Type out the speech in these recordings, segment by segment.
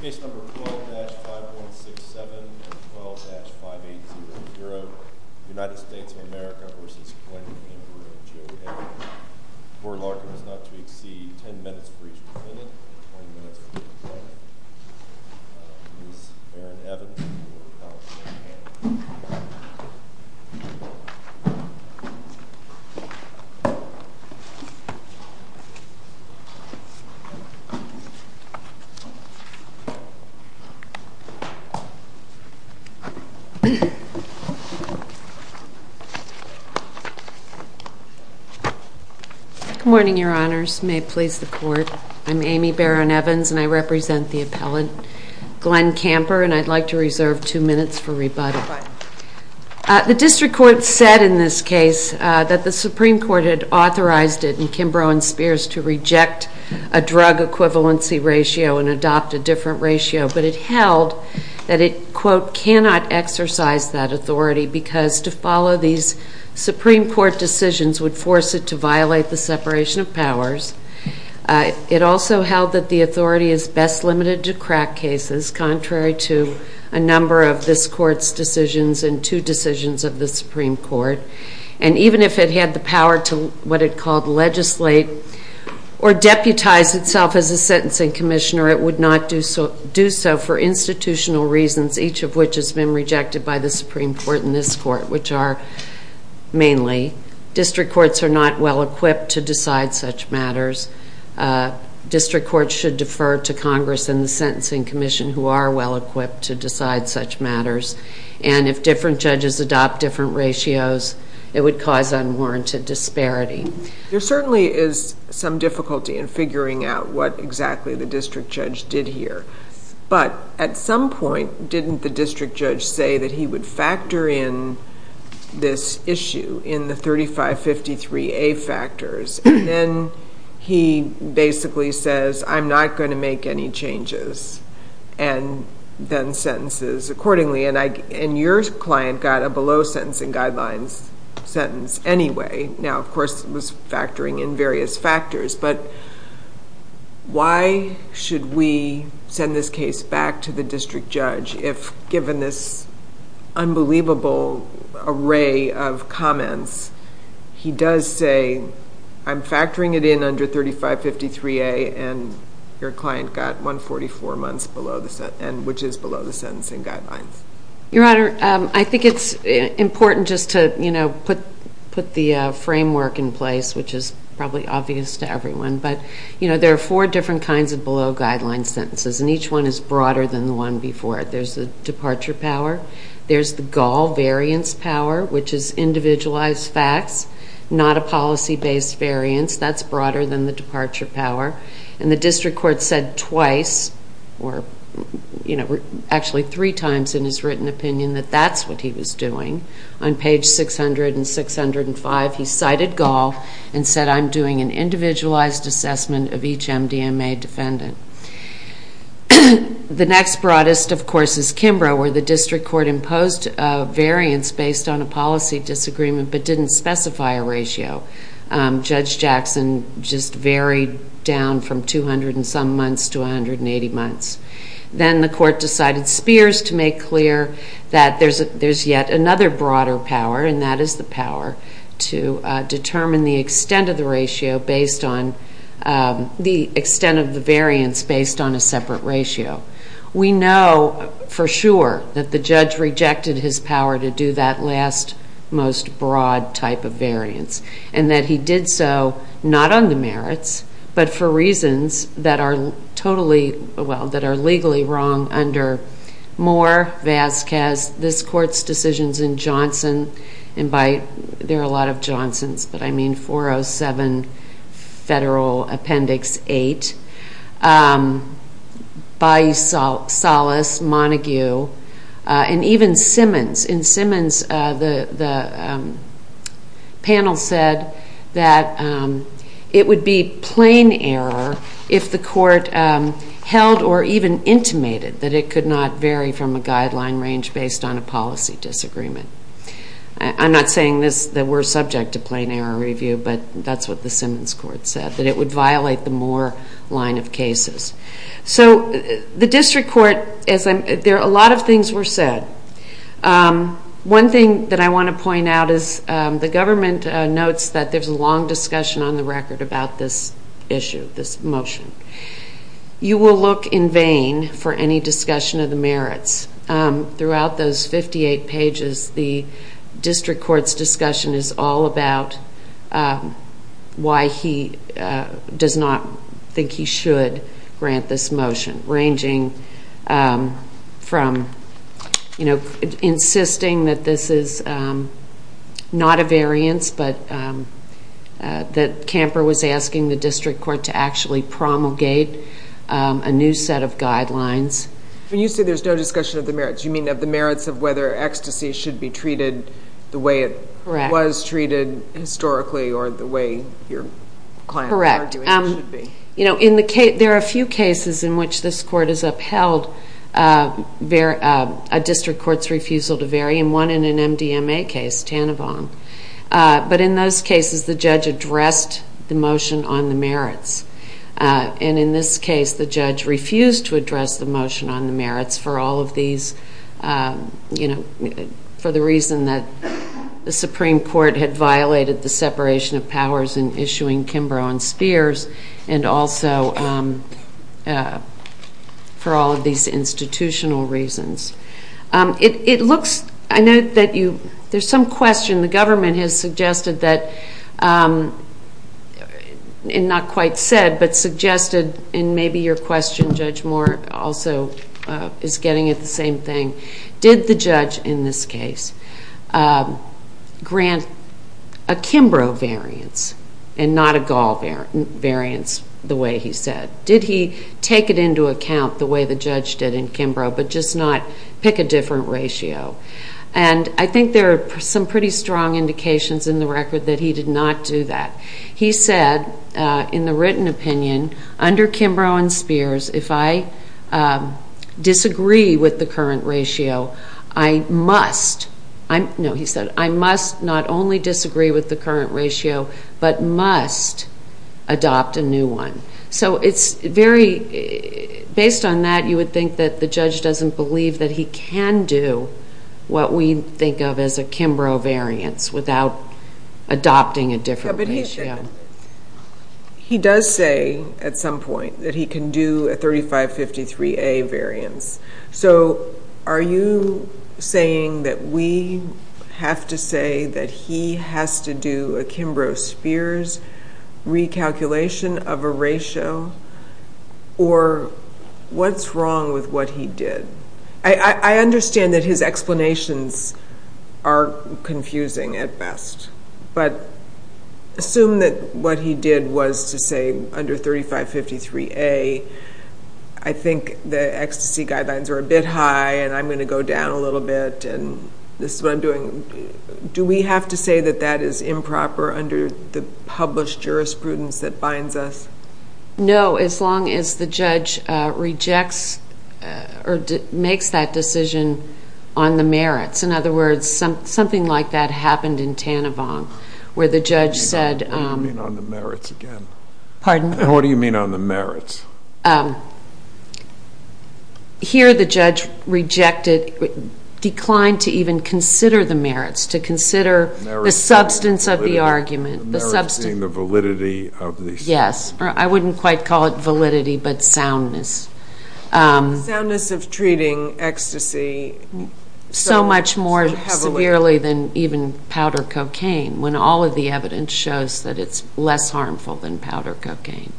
Case number 12-5167 and 12-5800, United States of America v. Kemper and Joe Edmund. Court order is not to exceed 10 minutes for each defendant and 20 minutes for each plaintiff. Ms. Erin Evans will now take the stand. Good morning, Your Honors. May it please the Court, I'm Amy Barron-Evans and I represent the appellant, Glenn Kamper, and I'd like to reserve two minutes for rebuttal. The District Court said in this case that the Supreme Court had authorized it in Kimbrough and Spears to reject a drug equivalency ratio and adopt a different ratio, but it held that it, quote, cannot exercise that authority because to follow these Supreme Court decisions would force it to violate the separation of powers. It also held that the authority is best limited to crack cases, contrary to a number of this Court's decisions and two decisions of the or deputize itself as a sentencing commissioner, it would not do so for institutional reasons, each of which has been rejected by the Supreme Court and this Court, which are mainly District Courts are not well-equipped to decide such matters. District Courts should defer to Congress and the Sentencing Commission, who are well-equipped to decide such matters, and if different judges adopt different ratios, it would cause unwarranted disparity. There certainly is some difficulty in figuring out what exactly the district judge did here, but at some point, didn't the district judge say that he would factor in this issue in the 3553A factors, and then he basically says, I'm not going to make any changes, and then sentences accordingly, and your client got a below-sentencing guidelines sentence anyway. Now, of course, it was factoring in various factors, but why should we send this case back to the district judge if given this unbelievable array of comments, he does say, I'm factoring it in under 3553A, and your client got 144 months below the sentence, and which is below the sentencing guidelines? Your Honor, I think it's important just to put the framework in place, which is probably obvious to everyone, but there are four different kinds of below-guidelines sentences, and each one is broader than the one before it. There's the departure power, there's the gall variance power, which is individualized facts, not a policy-based variance. That's broader than the departure power, and the district court said twice, or actually three times in his written opinion, that that's what he was doing. On page 600 and 605, he cited gall and said, I'm doing an individualized assessment of each MDMA defendant. The next broadest, of course, is Kimbrough, where the district court imposed a variance based on a policy disagreement, but didn't specify a ratio. Judge Jackson just varied down from 200 and some months to 180 months. Then the court decided Spears to make clear that there's yet another broader power, and that is the power to determine the extent of the variance based on a separate ratio. We know for sure that the judge rejected his power to do that last, most broad type of variance, and that he did so not on the merits, but for reasons that are totally, well, that are legally wrong under Moore, Vasquez, this court's decisions in Johnson, and by, there are a lot of Johnsons, but I mean 407 Federal Appendix 8, by Salas, Montague, and even Simmons. And Simmons, the panel said that it would be plain error if the court held or even intimated that it could not vary from a guideline range based on a policy disagreement. I'm not saying this, that we're subject to plain error review, but that's what the Simmons court said, that it would violate the Moore line of cases. So the district court, there are a lot of things were said. One thing that I want to point out is the government notes that there's a long discussion on the record about this issue, this motion. You will look in vain for any discussion of the merits. Throughout those 58 pages, the district court's discussion is all about why he does not think he should grant this motion, ranging from, you know, insisting that this is not a variance, but that Camper was asking the district court to actually promulgate a new set of guidelines. When you say there's no discussion of the merits, you mean of the merits of whether ecstasy should be treated the way it was treated historically or the way your client was arguing it should be. Correct. You know, there are a few cases in which this court has upheld a district court's refusal to vary, and one in an MDMA case, Tanavon. But in those cases, the judge addressed the motion on the merits. And in this case, the judge refused to address the motion on the merits for all of these, you know, for the reason that the Supreme Court had violated the separation of powers in issuing Kimbrough and Spears, and also for all of these institutional reasons. It looks, I know that you, there's some question, the government has suggested that, and not quite said, but suggested, and maybe your question, Judge Moore, also is getting at the same thing. Did the judge, in this case, grant a Kimbrough variance and not a Gall variance, the way he said? Did he take it into account the way the judge did in Kimbrough, but just not pick a different ratio? And I think there are some pretty strong indications in the record that he did not do that. He said, in the written opinion, under Kimbrough and Spears, if I disagree with the current ratio, I must, no, he said, I must not only disagree with the current ratio, but must adopt a new one. So it's very, based on that, you would think that the judge doesn't believe that he can do what we think of as a Kimbrough variance without adopting a different ratio. He does say, at some point, that he can do a 3553A variance. So are you saying that we have to say that he has to do a Kimbrough-Spears recalculation of a ratio, or what's wrong with what he did? I understand that his explanations are confusing at best, but assume that he did was to say, under 3553A, I think the ecstasy guidelines are a bit high, and I'm going to go down a little bit, and this is what I'm doing. Do we have to say that that is improper under the published jurisprudence that binds us? No, as long as the judge rejects or makes that decision on the merits. In other words, something like that happened in Tanavon, where the judge said... Pardon? What do you mean on the merits? Here, the judge declined to even consider the merits, to consider the substance of the argument. The merits being the validity of the... Yes, I wouldn't quite call it validity, but soundness. The soundness of treating ecstasy so heavily... So much more severely than even powder cocaine, when all of the evidence shows that it's less harmful than powder cocaine.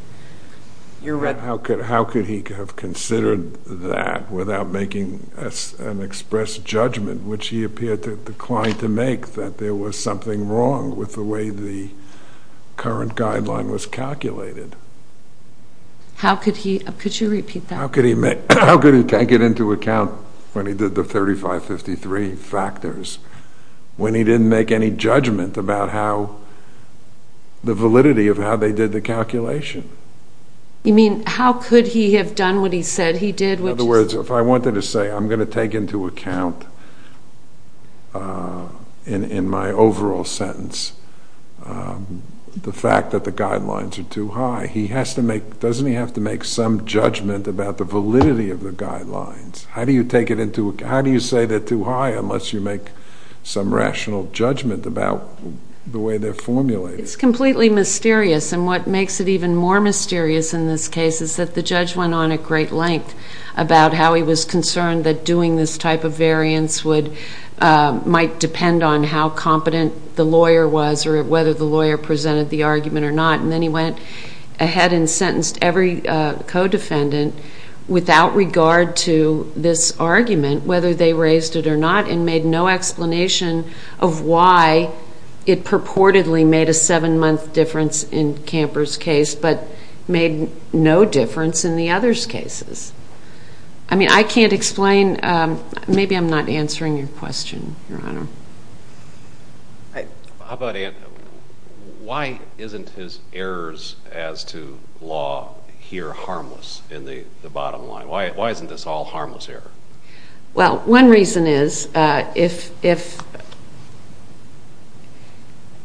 You're right. How could he have considered that without making an express judgment, which he appeared to decline to make, that there was something wrong with the way the current guideline was calculated? How could he... Could you repeat that? How could he take it into account when he did the 3553 factors, when he didn't make any judgment about the validity of how they did the calculation? You mean, how could he have done what he said he did? In other words, if I wanted to say, I'm going to take into account, in my overall sentence, the fact that the guidelines are too high, doesn't he have to make some judgment about the validity of the guidelines? How do you take it into... How do you say they're too high, unless you make some rational judgment about the way they're formulated? It's completely mysterious, and what makes it even more mysterious in this case is that the judge went on at great length about how he was concerned that doing this type of variance might depend on how competent the lawyer was, or whether the lawyer presented the argument or not, and then he went ahead and sentenced every co-defendant without regard to this argument, whether they raised it or not, and made no explanation of why it purportedly made a seven-month difference in Camper's case, but made no difference in the other's cases. I mean, I can't explain... Maybe I'm not answering your question, Your Honor. How about... Why isn't his errors as to law here harmless in the bottom line? Why isn't this all harmless error? Well, one reason is, if...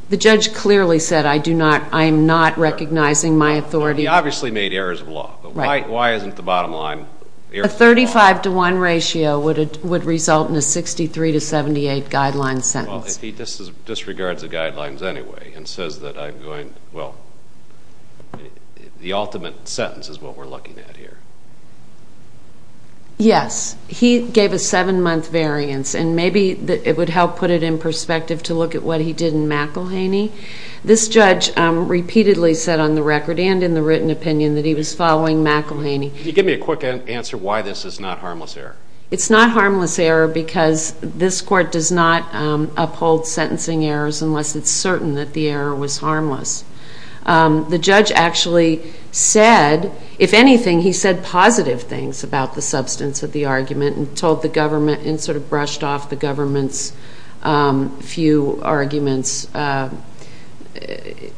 The judge clearly said, I do not... I am not recognizing my authority... He obviously made errors of law, but why isn't the bottom line... The 35-to-1 ratio would result in a 63-to-78 guideline sentence. Well, if he disregards the guidelines anyway and says that I'm going... Well, the ultimate sentence is what we're looking at here. Yes. He gave a seven-month variance, and maybe it would help put it in perspective to look at what he did in McElhaney. This judge repeatedly said on the record and in the written opinion that he was following McElhaney. Can you give me a quick answer why this is not harmless error? It's not harmless error because this court does not uphold sentencing errors unless it's certain that the error was harmless. The judge actually said, if anything, he said positive things about the substance of the argument and told the government and sort of brushed off the government's few arguments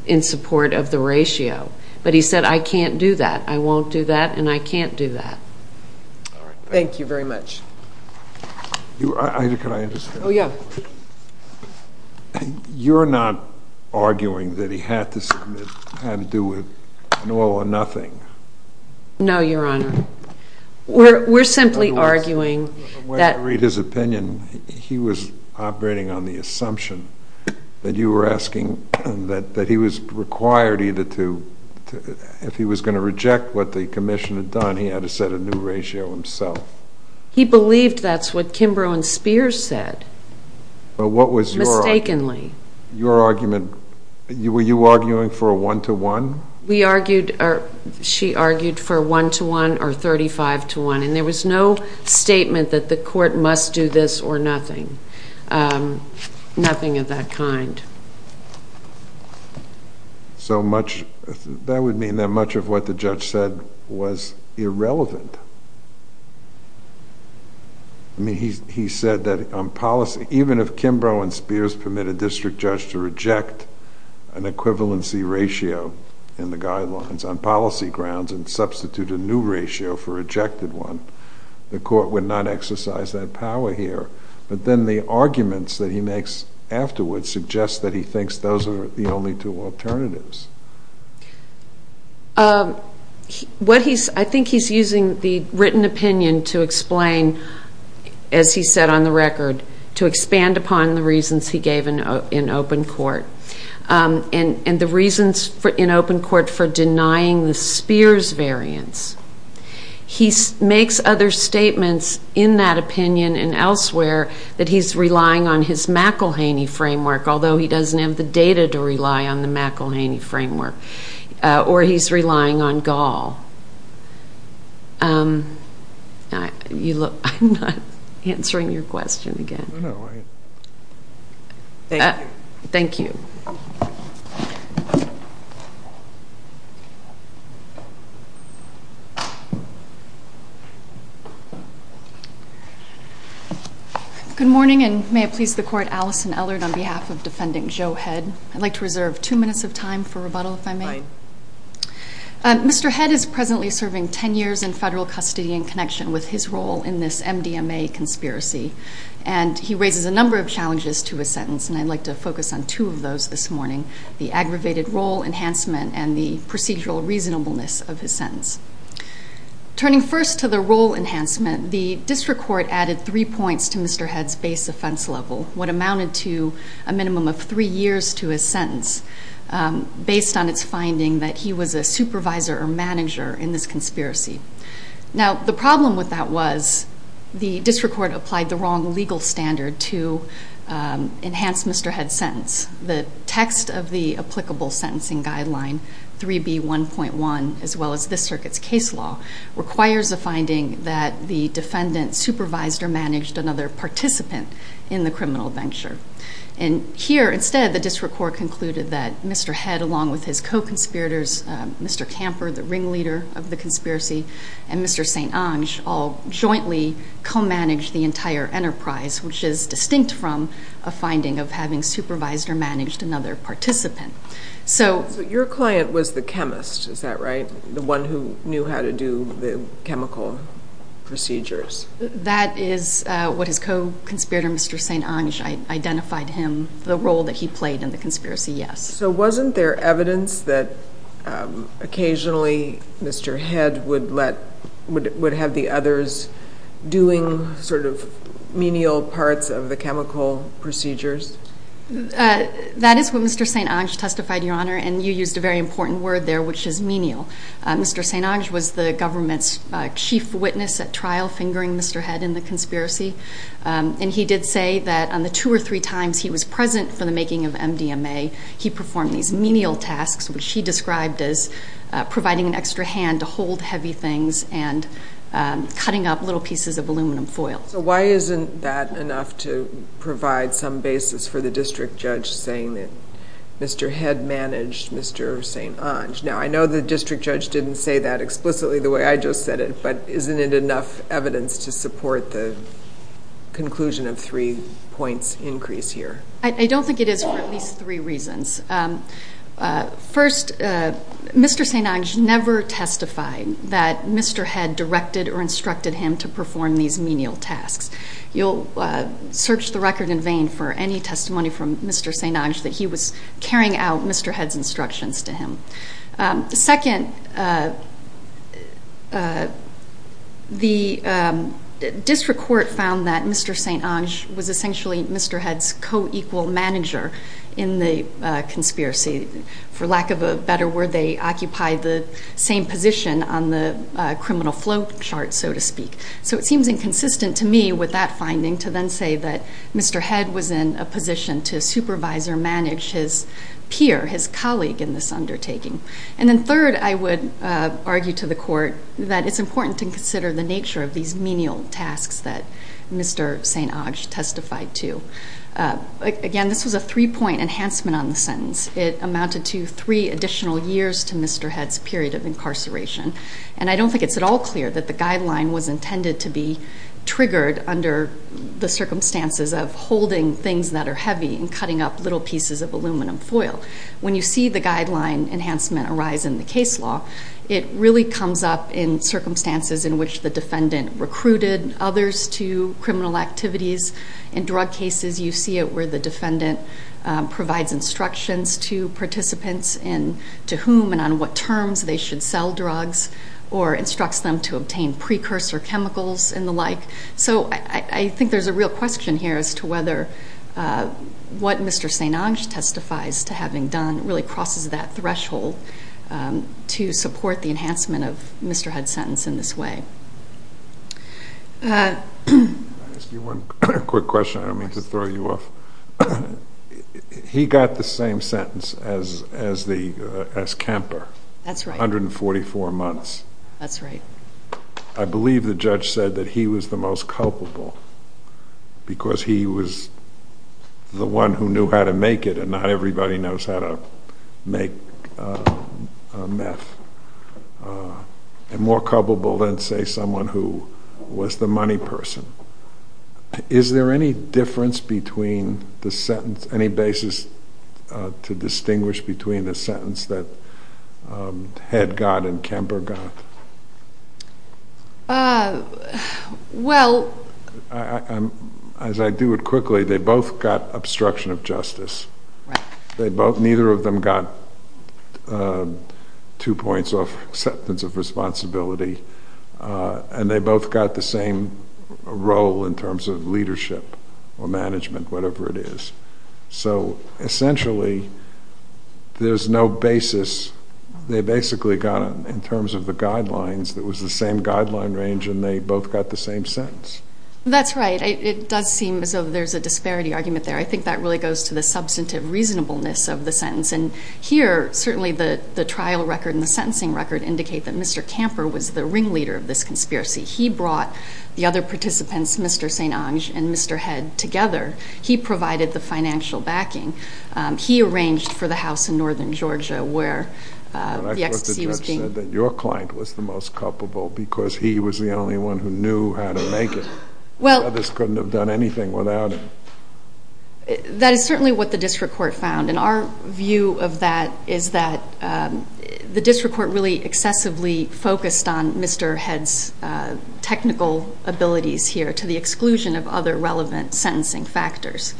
in support of the ratio. But he said, I can't do that. I won't do that, and I can't do that. Thank you very much. Can I just... Oh, yeah. You're not arguing that he had to do with no or nothing? No, Your Honor. We're simply arguing that... When I read his opinion, he was operating on the assumption that you were asking that he was required either to... If he was going to reject what the commission had done, he had to set a new ratio himself. He believed that's what Kimbrough and Spears said. What was your... Mistakenly. Your argument... Were you arguing for a one-to-one? We argued... She argued for a one-to-one or a thirty-five-to-one, and there was no statement that the court must do this or nothing. Nothing of that kind. So much... That would mean that much of what the judge said was irrelevant. I mean, he said that on policy... Even if Kimbrough and Spears permitted a district judge to reject an equivalency ratio in the guidelines on policy grounds and substitute a new ratio for a rejected one, the court would not exercise that power here. But then the arguments that he makes afterwards suggest that he thinks those are the only two alternatives. I think he's using the written opinion to explain, as he said on the record, to expand upon the reasons he gave in open court. And the reasons in open court for denying the he makes other statements in that opinion and elsewhere that he's relying on his McElhaney framework, although he doesn't have the data to rely on the McElhaney framework. Or he's relying on Gaul. You look... I'm not answering your question again. Thank you. Thank you. Good morning, and may it please the court, Alison Ellard on behalf of Defending Joe Head. I'd like to reserve two minutes of time for rebuttal, if I may. Mr. Head is presently serving 10 years in federal custody in connection with his role in this MDMA conspiracy. And he raises a number of challenges to his sentence, and I'd like to focus on two of those this morning, the aggravated role enhancement and the procedural reasonableness of his sentence. Turning first to the role enhancement, the district court added three points to Mr. Head's base offense level, what amounted to a minimum of three years to his sentence, based on its finding that he was a supervisor or manager in this conspiracy. Now, the problem with that was the district court applied the wrong legal standard to enhance Mr. Head's sentence. The text of the applicable sentencing guideline, 3B1.1, as well as this circuit's case law, requires a finding that the defendant supervised or managed another participant in the criminal venture. And here, instead, the district court concluded that Mr. Head, along with his co-conspirators, Mr. Camper, the ringleader of the conspiracy, and Mr. St. Onge, all jointly co-managed the or managed another participant. So your client was the chemist, is that right? The one who knew how to do the chemical procedures? That is what his co-conspirator, Mr. St. Onge, identified him, the role that he played in the conspiracy, yes. So wasn't there evidence that occasionally Mr. Head would let, would have the others doing sort of menial parts of the chemical procedures? That is what Mr. St. Onge testified, Your Honor, and you used a very important word there, which is menial. Mr. St. Onge was the government's chief witness at trial fingering Mr. Head in the conspiracy. And he did say that on the two or three times he was present for the making of MDMA, he performed these menial tasks, which he described as providing an extra hand to hold heavy things and cutting up little pieces of aluminum foil. So why isn't that enough to provide some basis for the district judge saying that Mr. Head managed Mr. St. Onge? Now, I know the district judge didn't say that explicitly the way I just said it, but isn't it enough evidence to support the conclusion of three points increase here? I don't think it is for at least three reasons. First, Mr. St. Onge never testified that Mr. Head directed or instructed him to perform these menial tasks. You'll search the record in vain for any testimony from Mr. St. Onge that he was carrying out Mr. Head's instructions to him. Second, the district court found that Mr. St. Onge was essentially Mr. Head's co-equal manager in the conspiracy. For lack of a better word, they occupied the same position on the criminal flow chart, so to speak. So it seems inconsistent to me with that finding to then say that Mr. Head was in a position to supervise or manage his peer, his colleague in this undertaking. And then third, I would argue to the court that it's important to consider the nature of these menial tasks that Mr. St. Onge testified to. Again, this was a three point enhancement on the sentence. It amounted to three additional years to Mr. Head's period of incarceration. And I don't think it's at all clear that the guideline was intended to be triggered under the circumstances of holding things that are heavy and cutting up little pieces of aluminum foil. When you see the guideline enhancement arise in the case law, it really comes up in circumstances in which the defendant recruited others to criminal activities. In drug cases, you see it where the defendant provides instructions to participants and to whom and on what terms they should sell drugs or instructs them to obtain precursor chemicals and the like. So I think there's a real question here as to whether what Mr. St. Onge testifies to having done really crosses that threshold to support the enhancement of Mr. Head's sentence in this way. Can I ask you one quick question? I don't mean to throw you off. He got the same sentence as Kemper. That's right. 144 months. That's right. I believe the judge said that he was the most culpable because he was the one who knew how to make it and not everybody knows how to make meth. And more culpable than say someone who was the money person. Is there any difference between the sentence, any basis to distinguish between the sentence that Head got and Kemper got? Well... As I do it quickly, they both got obstruction of justice. Right. They both, neither of them got two points of acceptance of responsibility and they both got the same role in terms of leadership or management, whatever it is. So essentially there's no basis. They basically got it in terms of the guidelines. It was the same guideline range and they both got the same sentence. That's right. It does seem as though there's a disparity argument there. I think that really goes to the substantive reasonableness of the sentence and here certainly the trial record and the sentencing record indicate that Mr. Kemper was the ringleader of this conspiracy. He brought the other participants, Mr. St. Onge and Mr. Head together. He provided the financial backing. He arranged for the house in northern Georgia where the ecstasy was being... I thought the judge said that your client was the most culpable because he was the only one who knew how to make it. Well... The others couldn't have done anything without him. That is certainly what the district court found and our view of that is that the district court really excessively focused on Mr. Head's technical abilities here to the exclusion of other relevant sentencing factors.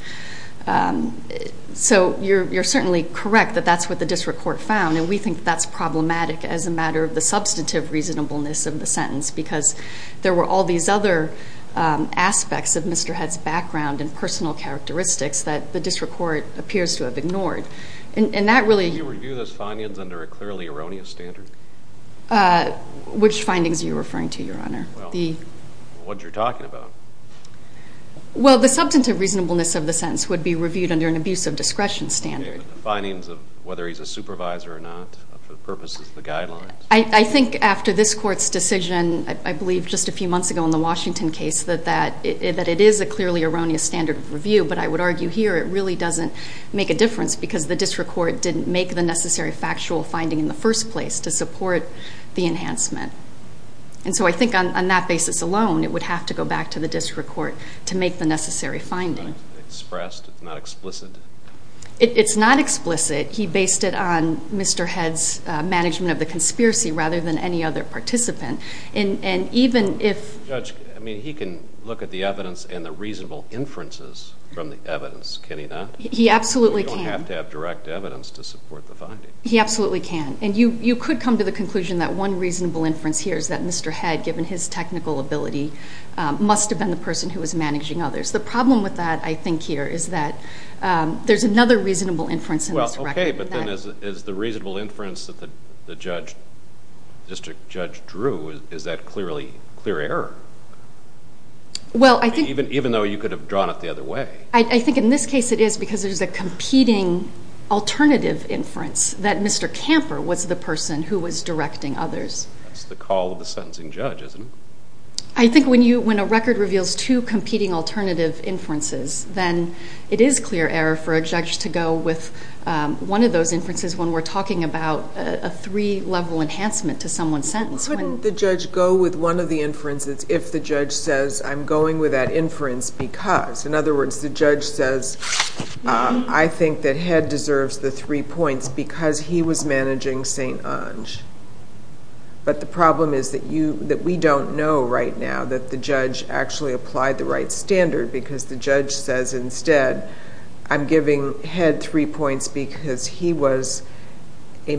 So you're certainly correct that that's what the district court found and we think that's problematic as a matter of the substantive reasonableness of the sentence because there were all these other aspects of Mr. Head's background and personal characteristics that the district court appears to have ignored. And that really... Can you review those findings under a clearly erroneous standard? Which findings are you referring to, your honor? What you're talking about. Well the substantive reasonableness of the sentence would be reviewed under an abuse of discretion standard. The findings of whether he's a supervisor or not for the purposes of the guidelines. I think after this court's decision, I believe just a few months ago in the Washington case, that it is a clearly erroneous standard of review, but I would argue here it really doesn't make a difference because the district court didn't make the necessary factual finding in the first place to support the enhancement. And so I think on that basis alone, it would have to go back to the district court to make the necessary finding. It's expressed, it's not explicit. It's not explicit. He based it on Mr. Head's management of the conspiracy rather than any other participant. And even if... Judge, I mean, he can look at the evidence and the reasonable inferences from the evidence, can he not? He absolutely can. You don't have to have direct evidence to support the finding. He absolutely can. And you could come to the conclusion that one reasonable inference here is that Mr. Head, given his technical ability, must have been the person who was managing others. The problem with that, I think here, is that there's another reasonable inference in this record. Well, okay, but then is the reasonable inference that the district judge drew, is that clear error? Well, I think... Even though you could have drawn it the other way. I think in this case it is because there's a competing alternative inference that Mr. Camper was the person who was directing others. That's the call of the sentencing judge, isn't it? I think when a record reveals two competing alternative inferences, then it is clear error for a judge to go with one of those inferences when we're talking about a three-level enhancement to someone's sentence. Wouldn't the judge go with one of the inferences if the judge says, I'm going with that inference because... In other words, the judge says, I think that Head deserves the three points because he was managing St. Onge. But the problem is that we don't know right now that the judge actually applied the right standard because the judge says instead, I'm giving Head three points because he was a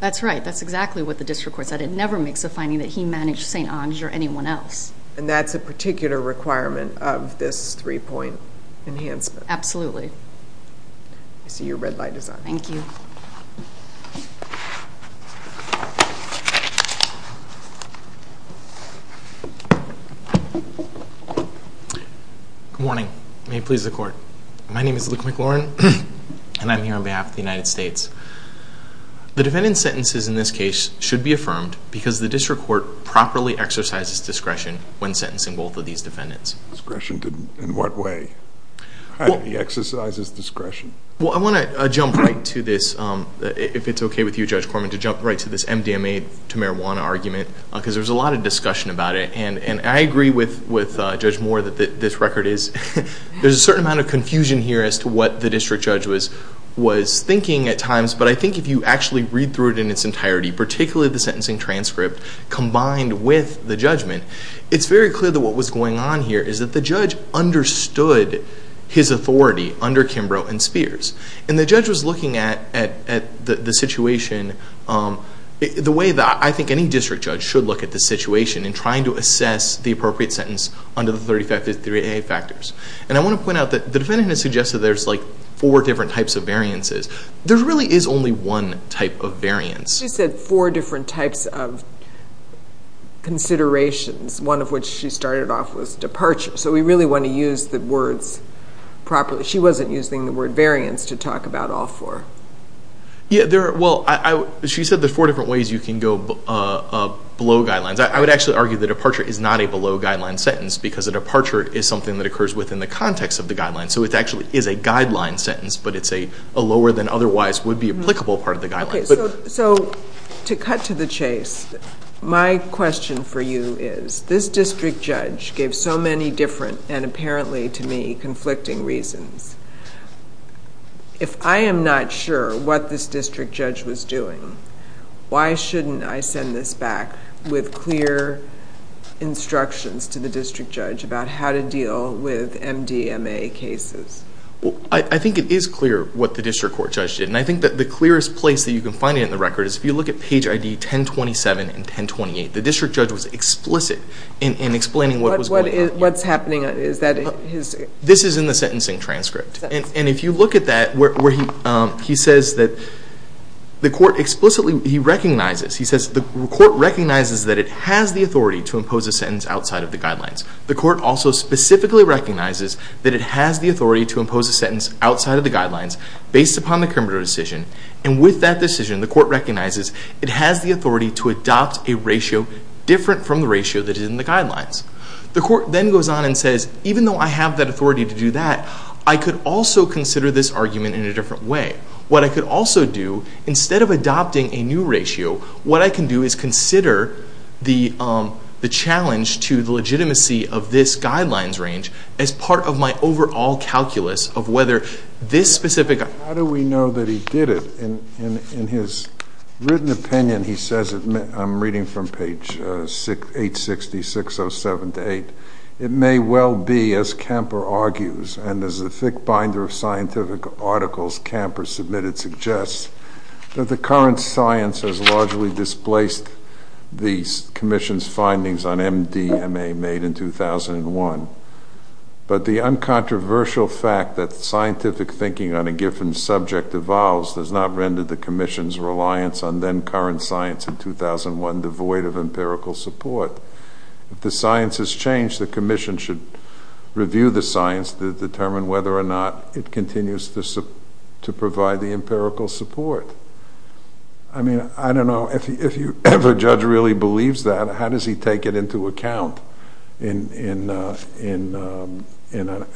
That's right. That's exactly what the district court said. It never makes a finding that he managed St. Onge or anyone else. And that's a particular requirement of this three-point enhancement. Absolutely. I see your red light is on. Thank you. Good morning. May it please the court. My name is Luke McLaurin and I'm here on behalf of the United States. The defendant's sentences in this case should be affirmed because the district court properly exercises discretion when sentencing both of these defendants. Discretion in what way? He exercises discretion. Well, I want to jump right to this, if it's okay with you, Judge Corman, to jump right to this MDMA to marijuana argument because there's a lot of discussion about it. And I agree with Judge Moore that this record is, there's a certain amount of confusion here as to what the district judge was thinking at times, but I think if you actually read through it in its entirety, particularly the sentencing transcript combined with the judgment, it's very clear that what was going on here is that the judge understood his authority under Kimbrough and Spears. And the judge was looking at the situation the way that I think any district judge should look at the situation in trying to assess the appropriate sentence under the 3553A factors. And I want to point out that the defendant has suggested there's like four different types of variances. There really is only one type of variance. She said four different types of considerations, one of which she started off with departure. So we really want to use the words properly. She wasn't using the word variance to talk about all four. Yeah, there, well, she said there's four different ways you can go below guidelines. I would actually argue that departure is not a below guideline sentence because a departure is something that occurs within the context of the guideline. So it actually is a guideline sentence, but it's a lower than otherwise would be applicable part of the guideline. Okay, so to cut to the chase, my question for you is this district judge gave so many different and apparently to me conflicting reasons. If I am not sure what this district judge was doing, why shouldn't I send this back with clear instructions to the district judge about how to deal with MDMA cases? I think it is clear what the district court judge did. And I think that the clearest place that you can find it in the record is if you look at page ID 1027 and 1028, the district judge was explicit in explaining what was going on. What's happening? This is in the sentencing transcript. And if you look at that where he says that the court explicitly, he recognizes, he says the court recognizes that it has the authority to impose a sentence outside of the guidelines. The court also specifically recognizes that it has the authority to impose a sentence outside of the guidelines based upon the criminal decision. And with that decision, the court recognizes it has the authority to adopt a ratio different from the ratio that is in the guidelines. The court then goes on and says, even though I have that authority to do that, I could also consider this argument in a different way. What I could also do, instead of adopting a new ratio, what I can do is consider the challenge to the legitimacy of this guidelines range as part of my overall calculus of whether this specific... How do we know that he did it? In his written opinion, he says, I'm reading from page 860-607-8, it may well be, as Camper argues, and as the thick binder of scientific articles Camper submitted suggests, that the current science has largely displaced the commission's findings on MDMA made in 2001. But the uncontroversial fact that scientific thinking on a given subject evolves does not render the commission's reliance on then current science in 2001 devoid of empirical support. If the science has changed, the commission should review the science to determine whether or not it continues to provide the empirical support. I mean, I don't know if a judge really believes that. How does he take it into account in an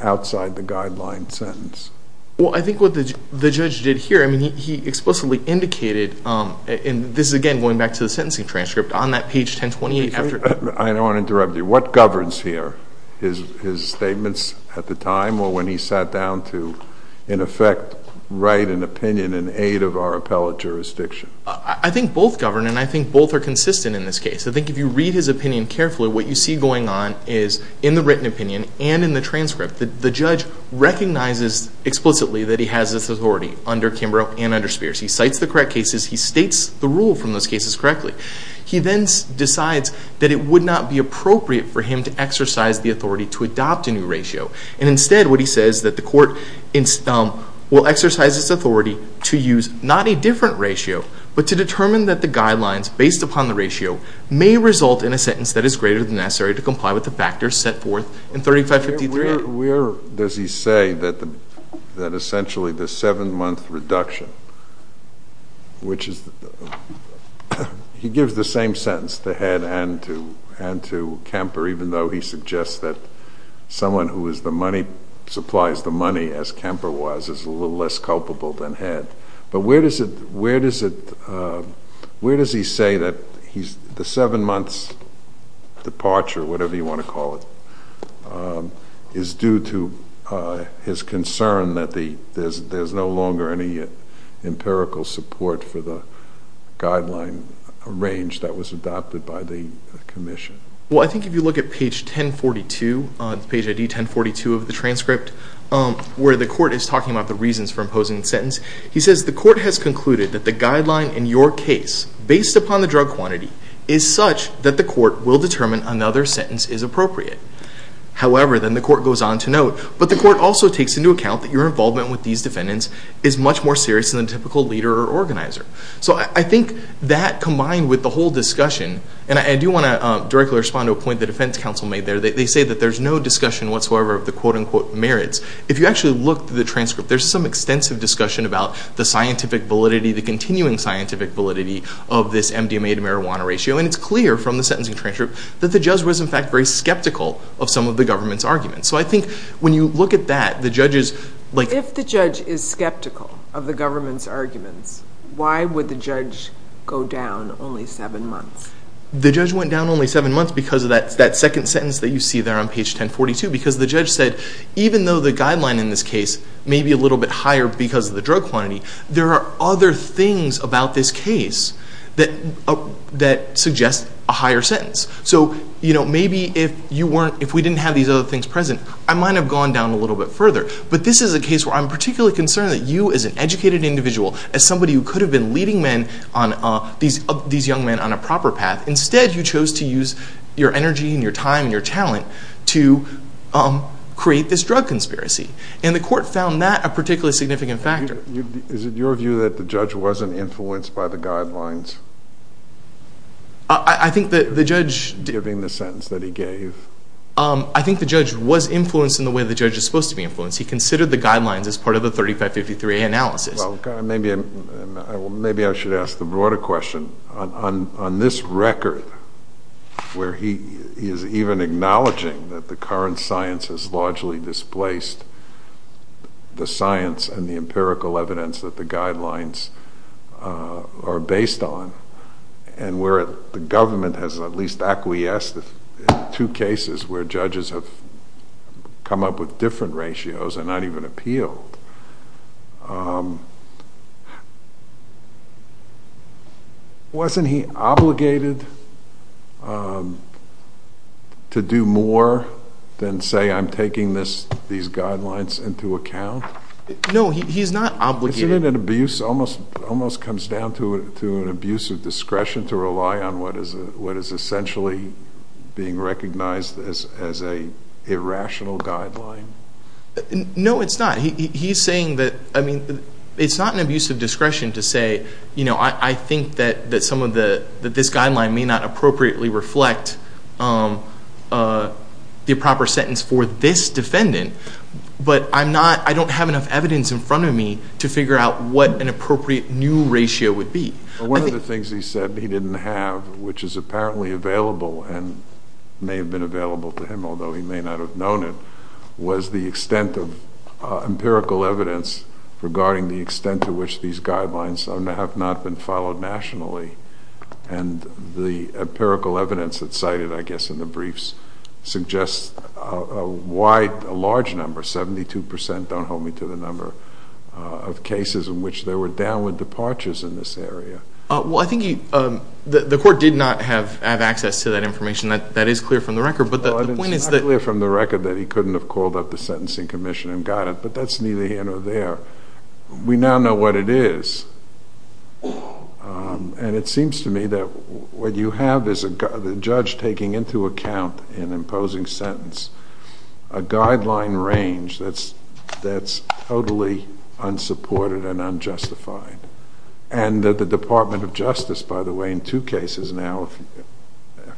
outside the guideline sentence? Well, I think what the judge did here, I mean, he explicitly indicated, and this is again going back to the sentencing transcript, on that page 1028 after... I don't want to interrupt you. What governs here? His statements at the time or when he sat down to, in effect, write an opinion in aid of our appellate jurisdiction? I think both govern and I think both are consistent in this case. I think if you read his opinion carefully, what you see going on is in the written opinion and in the transcript, the judge recognizes explicitly that he has this authority under Kimbrough and under Spears. He cites the correct cases. He states the rule from those cases correctly. He then decides that it would not be appropriate for him to exercise the authority to adopt a new ratio. And instead, what he says that the court will exercise its authority to use not a different ratio, but to determine that the guidelines based upon the ratio may result in a sentence that is greater than necessary to comply with the factors set forth in 3553. Where does he say that essentially the seven-month reduction, which is... He gives the same sentence to Head and to Kemper, even though he suggests that someone who is the money, supplies the money as Kemper was, is a little less culpable than Head. But where does he say that the seven months departure, whatever you want to call it, is due to his concern that there's no longer any empirical support for the guideline range that was adopted by the commission? Well, I think if you look at page 1042, page ID 1042 of the transcript, where the court is talking about the reasons for imposing the sentence, he says the court has concluded that the guideline in your case, based upon the drug quantity, is such that the court will determine another sentence is appropriate. However, then the court goes on to note, but the court also takes into account that your involvement with these defendants is much more serious than a typical leader or organizer. So I think that combined with the whole discussion, and I do want to directly respond to a point the defense counsel made there. They say that there's no discussion whatsoever of the quote-unquote merits. If you actually look at the transcript, there's some extensive discussion about the scientific validity, the continuing scientific validity of this MDMA to marijuana ratio, and it's in fact very skeptical of some of the government's arguments. So I think when you look at that, the judges... If the judge is skeptical of the government's arguments, why would the judge go down only seven months? The judge went down only seven months because of that second sentence that you see there on page 1042, because the judge said, even though the guideline in this case may be a little bit higher because of the drug quantity, there are other things about this case that suggest a higher sentence. So maybe if we didn't have these other things present, I might have gone down a little bit further. But this is a case where I'm particularly concerned that you, as an educated individual, as somebody who could have been leading these young men on a proper path, instead you chose to use your energy and your time and your talent to create this drug conspiracy. And the court found that a particularly significant factor. Is it your view that the judge wasn't influenced by the guidelines? I think that the judge... Giving the sentence that he gave. I think the judge was influenced in the way the judge is supposed to be influenced. He considered the guidelines as part of the 3553A analysis. Well, maybe I should ask the broader question. On this record, where he is even acknowledging that the current science has largely displaced the science and the empirical evidence that the guidelines are based on, and where the government has at least acquiesced in two cases where judges have come up with different ratios and not even appealed, wasn't he obligated to do more than say, I'm taking these guidelines into account? No, he's not obligated. Isn't it an abuse, almost comes down to an abuse of discretion to rely on what is essentially being recognized as an irrational guideline? No, it's not. It's not an abuse of discretion to say, I think that this guideline may not appropriately reflect the proper sentence for this defendant, but I don't have enough evidence in front of me to figure out what an appropriate new ratio would be. One of the things he said he didn't have, which is apparently available and may have been available to him, although he may not have known it, was the extent of empirical evidence regarding the extent to which these guidelines have not been followed nationally. And the empirical evidence that's cited, I guess, in the briefs suggests a wide, a large number, 72 percent, don't hold me to the number, of cases in which there were downward departures in this area. Well, I think the court did not have access to that information. That is clear from the record, but the point is that… It's not clear from the record that he couldn't have called up the sentencing commission and got it, but that's neither here nor there. We now know what it is. And it seems to me that what you have is the judge taking into account, in imposing sentence, a guideline range that's totally unsupported and unjustified, and that the Department of Justice, by the way, in two cases now,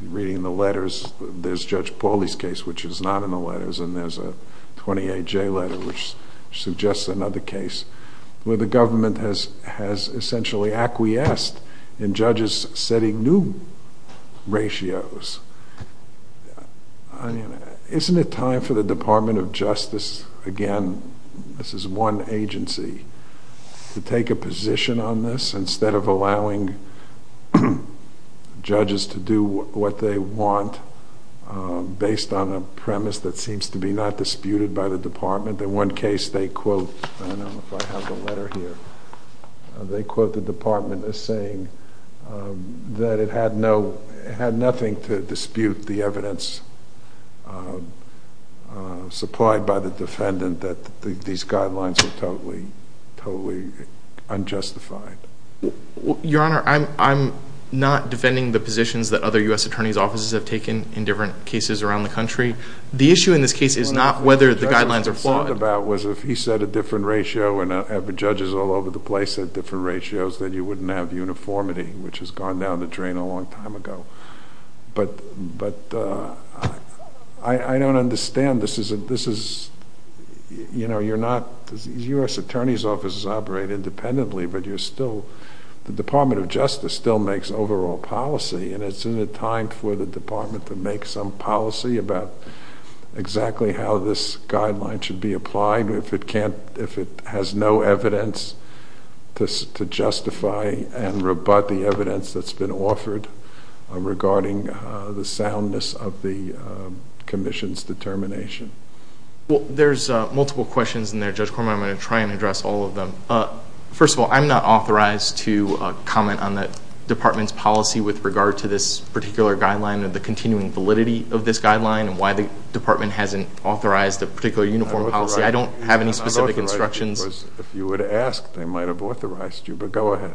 reading the letters, there's Judge Pauly's case, which is not in the letters, and there's a 28J letter, which suggests another case, where the government has essentially acquiesced in judges setting new ratios. Isn't it time for the Department of Justice, again, this is one agency, to take a position on this instead of allowing judges to do what they want based on a premise that seems to be not disputed by the department? In one case, they quote, I don't know if I have the letter here, they quote the department as saying that it had nothing to dispute the evidence supplied by the defendant that these guidelines are totally unjustified. Your Honor, I'm not defending the positions that other U.S. attorney's offices have taken in different cases around the country. The issue in this case is not whether the guidelines are flawed. What the judge thought about was if he set a different ratio and have the judges all over the place at different ratios, then you wouldn't have uniformity, which has gone down the drain a long time ago. But I don't understand, this is, you know, you're not, these U.S. attorney's offices operate independently, but you're still, the Department of Justice still makes overall policy and it's in a time for the department to make some policy about exactly how this guideline should be applied if it can't, if it has no evidence to justify and rebut the evidence that's been offered regarding the soundness of the commission's determination. Well, there's multiple questions in there, Judge Corman. I'm going to try and address all of them. First of all, I'm not authorized to comment on the department's policy with regard to this particular guideline or the continuing validity of this guideline and why the department hasn't authorized a particular uniform policy. I don't have any specific instructions. If you would have asked, they might have authorized you, but go ahead.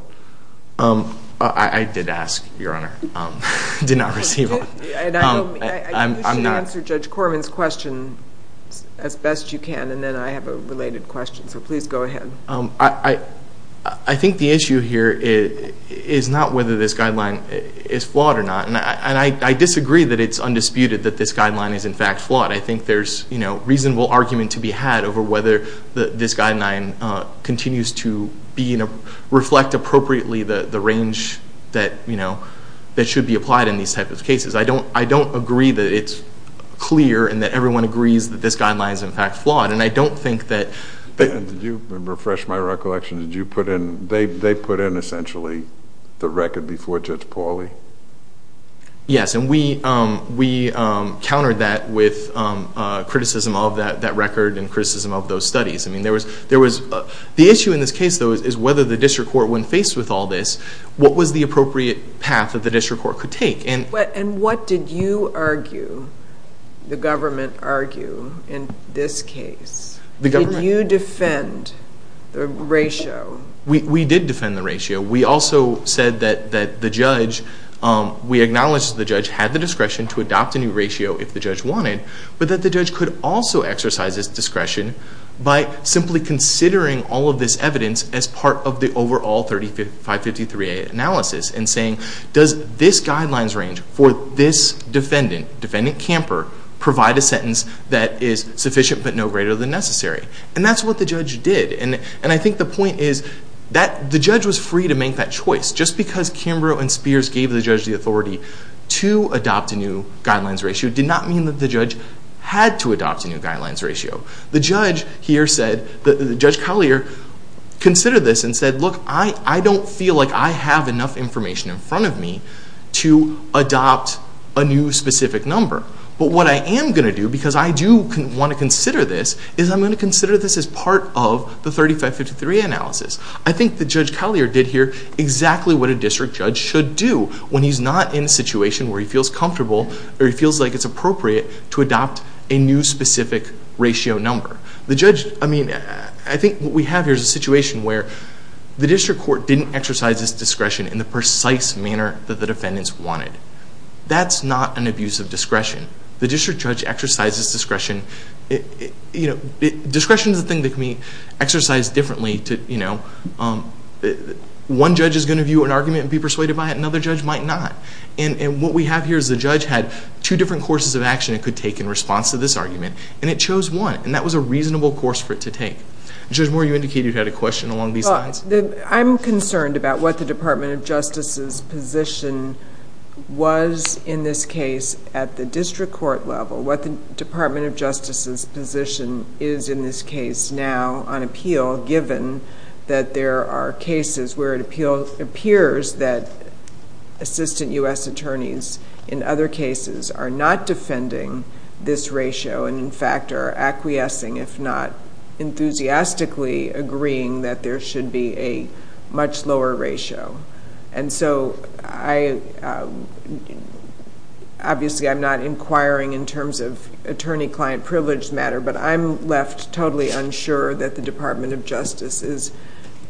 I did ask, Your Honor. I did not receive one. And you should answer Judge Corman's question as best you can and then I have a related question, so please go ahead. I think the issue here is not whether this guideline is flawed or not, and I disagree that it's undisputed that this guideline is, in fact, flawed. I think there's reasonable argument to be had over whether this guideline continues to reflect appropriately the range that should be applied in these types of cases. I don't agree that it's clear and that everyone agrees that this guideline is, in fact, flawed. I don't think that... Did you refresh my recollection? They put in, essentially, the record before Judge Pauley? Yes, and we countered that with criticism of that record and criticism of those studies. The issue in this case, though, is whether the district court, when faced with all this, what was the appropriate path that the district court could take? And what did you argue, the government argue, in this case? Did you defend the ratio? We did defend the ratio. We also said that the judge, we acknowledged the judge had the discretion to adopt a new ratio if the judge wanted, but that the judge could also exercise this discretion by simply considering all of this evidence as part of the overall 3553A analysis and saying, does this guidelines range for this defendant, defendant Camper, provide a sentence that is sufficient but no greater than necessary? And that's what the judge did. And I think the point is that the judge was free to make that choice. Just because Camper and Spears gave the judge the authority to adopt a new guidelines ratio did not mean that the judge had to adopt a new guidelines ratio. The judge here said, Judge Collier considered this and said, look, I don't feel like I have enough information in front of me to adopt a new specific number. But what I am going to do, because I do want to consider this, is I'm going to consider this as part of the 3553A analysis. I think that Judge Collier did here exactly what a district judge should do when he's not in a situation where he feels comfortable or he feels like it's appropriate to adopt a new specific ratio number. The judge, I mean, I think what we have here is a situation where the district court didn't exercise this discretion in the precise manner that the defendants wanted. That's not an abuse of discretion. The district judge exercises discretion. Discretion is a thing that can be exercised differently. One judge is going to view an argument and be persuaded by it. Another judge might not. And what we have here is the judge had two different courses of action it could take in response to this argument. And it chose one. And that was a reasonable course for it to take. Judge Moore, you indicated you had a question along these lines. I'm concerned about what the Department of Justice's position was in this case at the district court level. What the Department of Justice's position is in this case now on appeal given that there are cases where it appears that assistant U.S. attorneys in other cases are not defending this ratio and in fact are acquiescing, if not enthusiastically agreeing that there should be a much lower ratio. And so, obviously I'm not inquiring in terms of attorney-client privilege matter, but I'm left totally unsure that the Department of Justice is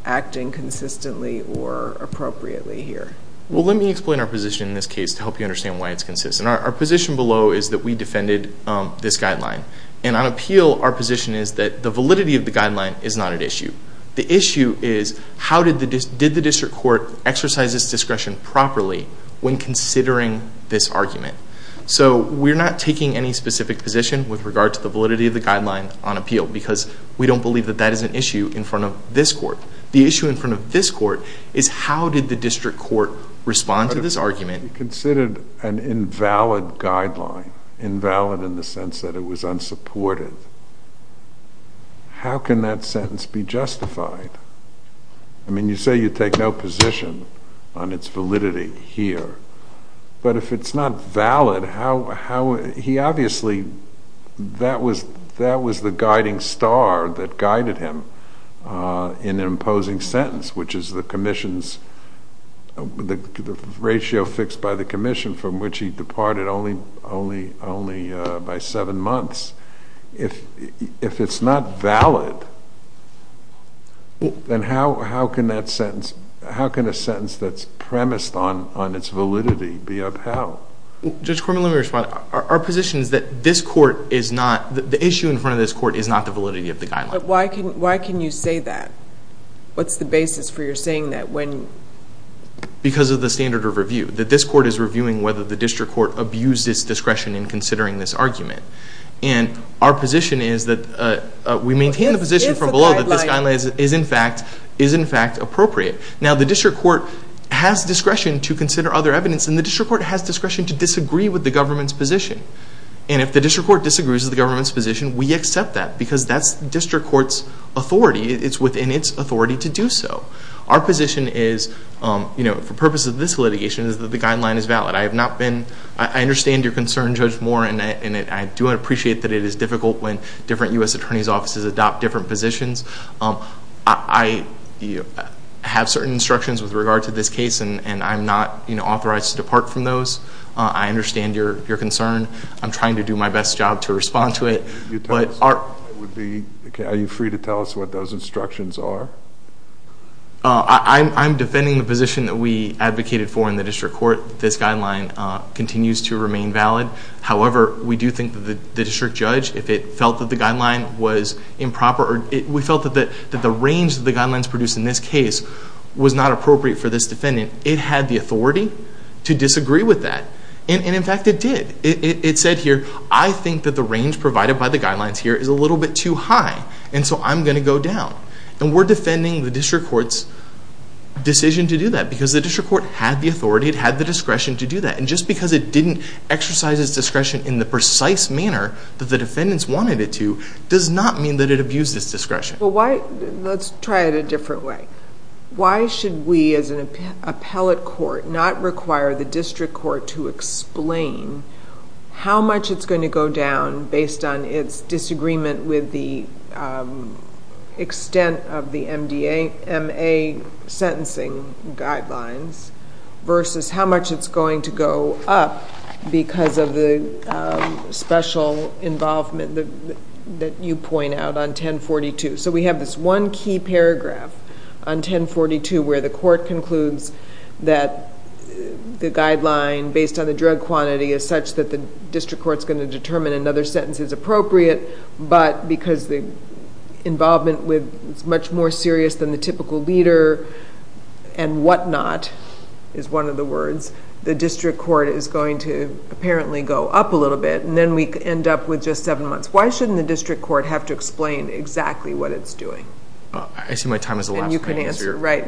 acting consistently or appropriately here. Well, let me explain our position in this case to help you understand why it's consistent. Our position below is that we defended this guideline. And on appeal, our position is that the validity of the guideline is not an issue. The issue is how did the district court exercise this discretion properly when considering this argument. So, we're not taking any specific position with regard to the validity of the guideline on appeal because we don't believe that that is an issue in front of this court. The issue in front of this court is how did the district court respond to this argument. Considered an invalid guideline, invalid in the sense that it was unsupported. How can that sentence be justified? I mean, you say you take no position on its validity here, but if it's not valid, how, he obviously, that was the guiding star that guided him in an opposing sentence, which is the commission's, the ratio fixed by the commission from which he departed only by seven months. If it's not valid, then how can that sentence, how can a sentence that's premised on its validity be upheld? Judge Corman, let me respond. Our position is that this court is not, the issue in front of this court is not the validity of the guideline. Why can you say that? What's the basis for your saying that? Because of the standard of review, that this court is reviewing whether the district court abused its discretion in considering this argument. Our position is that we maintain the position from below that this guideline is in fact appropriate. Now, the district court has discretion to consider other evidence and the district court has discretion to disagree with the government's position. If the district court disagrees with the government's position, we accept that because that's the district court's authority. It's within its authority to do so. Our position is, for purposes of this litigation, is that the guideline is valid. I have not been, I understand your concern, Judge Moore, and I do appreciate that it is difficult when different U.S. attorney's offices adopt different positions. I have certain instructions with regard to this case and I'm not authorized to depart from those. I understand your concern. I'm trying to do my best job to respond to it. Are you free to tell us what those instructions are? I'm defending the position that we advocated for in the district court. This guideline continues to remain valid. However, we do think that the district judge, if it felt that the guideline was improper, or we felt that the range that the guidelines produced in this case was not appropriate for this defendant, it had the authority to disagree with that. In fact, it did. It said here, I think that the range provided by the guidelines here is a little bit too high and so I'm going to go down. We're defending the district court's decision to do that because the district court had the authority, it had the discretion to do that. Just because it didn't exercise its discretion in the precise manner that the defendants wanted it to does not mean that it abused its discretion. Let's try it a different way. Why should we, as an appellate court, not require the district court to explain how much it's going to go down based on its disagreement with the extent of the M.A. sentencing guidelines versus how much it's going to go up because of the special involvement that you point out on 1042? We have this one key paragraph on 1042 where the court concludes that the guideline based on the drug quantity is such that the district court's going to determine another sentence is appropriate, but because the involvement was much more serious than the typical leader and whatnot is one of the words, the district court is going to apparently go up a little bit and then we end up with just seven months. Why shouldn't the district court have to explain exactly what it's doing? I see my time is elapsed. You can answer, right.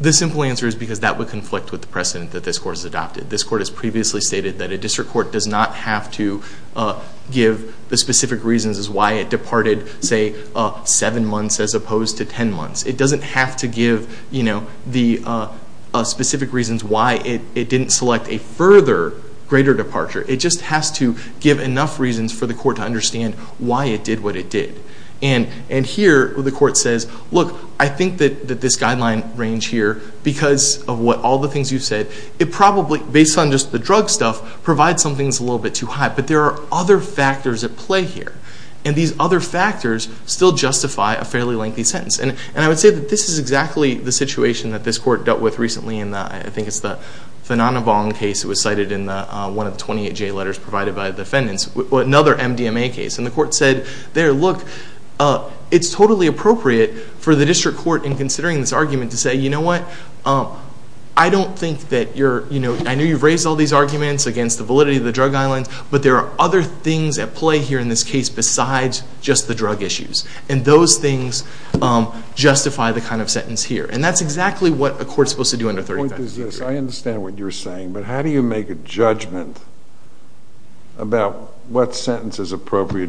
The simple answer is because that would conflict with the precedent that this court has adopted. This court has previously stated that a district court does not have to give the specific reasons as why it departed, say, seven months as opposed to 10 months. It doesn't have to give the specific reasons why it didn't select a further greater departure. It just has to give enough reasons for the court to understand why it did what it did. Here, the court says, look, I think that this guideline range here, because of what all the things you've said, it probably, based on just the drug stuff, provides some things a little bit too high, but there are other factors at play here. These other factors still justify a fairly lengthy sentence. I would say that this is exactly the situation that this court dealt with recently in the, I think it's the Fananavong case, it was cited in one of the 28J letters provided by the defendants, another MDMA case. The court said, there, look, it's totally appropriate for the district court in considering this argument to say, you know what, I don't think that you're, you know, I know you've raised all these arguments against the validity of the drug islands, but there are other things at play here in this case besides just the drug issues. And those things justify the kind of sentence here. And that's exactly what a court's supposed to do under 30-30. The point is, yes, I understand what you're saying, but how do you make a judgment,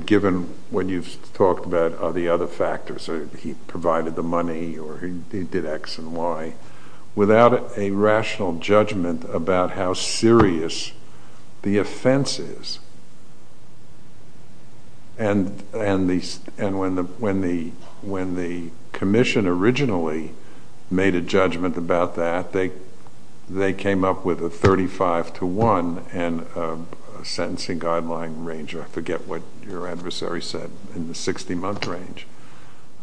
given what you've talked about are the other factors, he provided the money or he did X and Y, without a rational judgment about how serious the offense is? And when the commission originally made a judgment about that, they came up with a 35-1 and a sentencing guideline range, or I forget what your adversary said, in the 60-month range.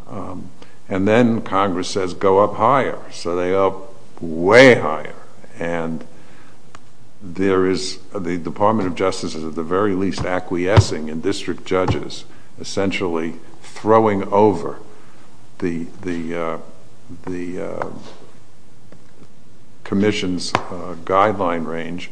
And then Congress says, go up higher. So they go up way higher. And there is, the Department of Justice is at the very least acquiescing in that guideline range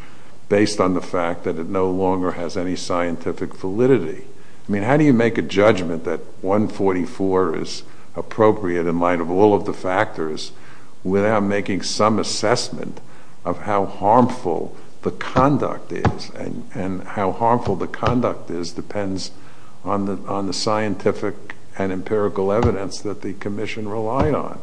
based on the fact that it no longer has any scientific validity. I mean, how do you make a judgment that 144 is appropriate in light of all of the factors without making some assessment of how harmful the conduct is? And how harmful the conduct is depends on the scientific and empirical evidence that the commission relied on.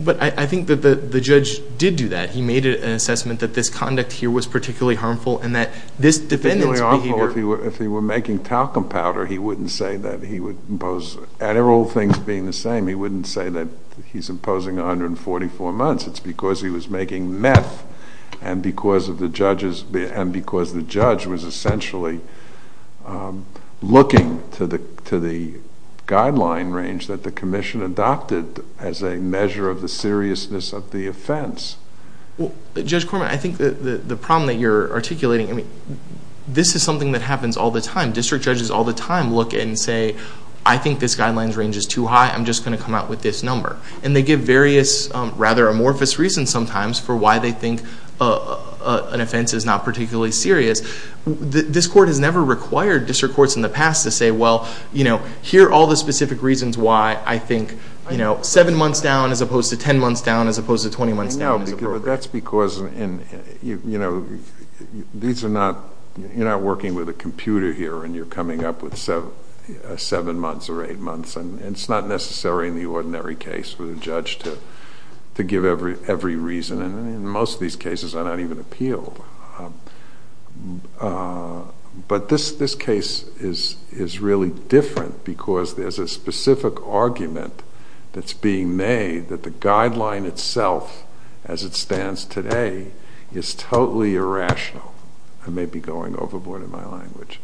But I think that the judge did do that. He made an assessment that this conduct here was particularly harmful and that this defendant's behavior- Particularly harmful if he were making talcum powder, he wouldn't say that he would impose, at all things being the same, he wouldn't say that he's imposing 144 months. It's because he was making meth and because the judge was essentially looking to the guideline range that the commission adopted as a measure of the seriousness of the offense. Judge Corman, I think the problem that you're articulating, I mean, this is something that happens all the time. District judges all the time look and say, I think this guideline range is too high. I'm just going to come out with this number. And they give various rather amorphous reasons sometimes for why they think an offense is not particularly serious. This court has never required district courts in the past to say, well, you know, here are all the specific reasons why I think, you know, seven months down as opposed to 10 months down as opposed to 20 months down is appropriate. That's because, you know, these are not, you're not working with a computer here and you're coming up with seven months or eight months and it's not necessary in the ordinary case for the judge to give every reason. And most of these cases are not even appealed. But this case is really different because there's a specific argument that's being made that the guideline itself as it stands today is totally irrational. I may be going overboard in my language.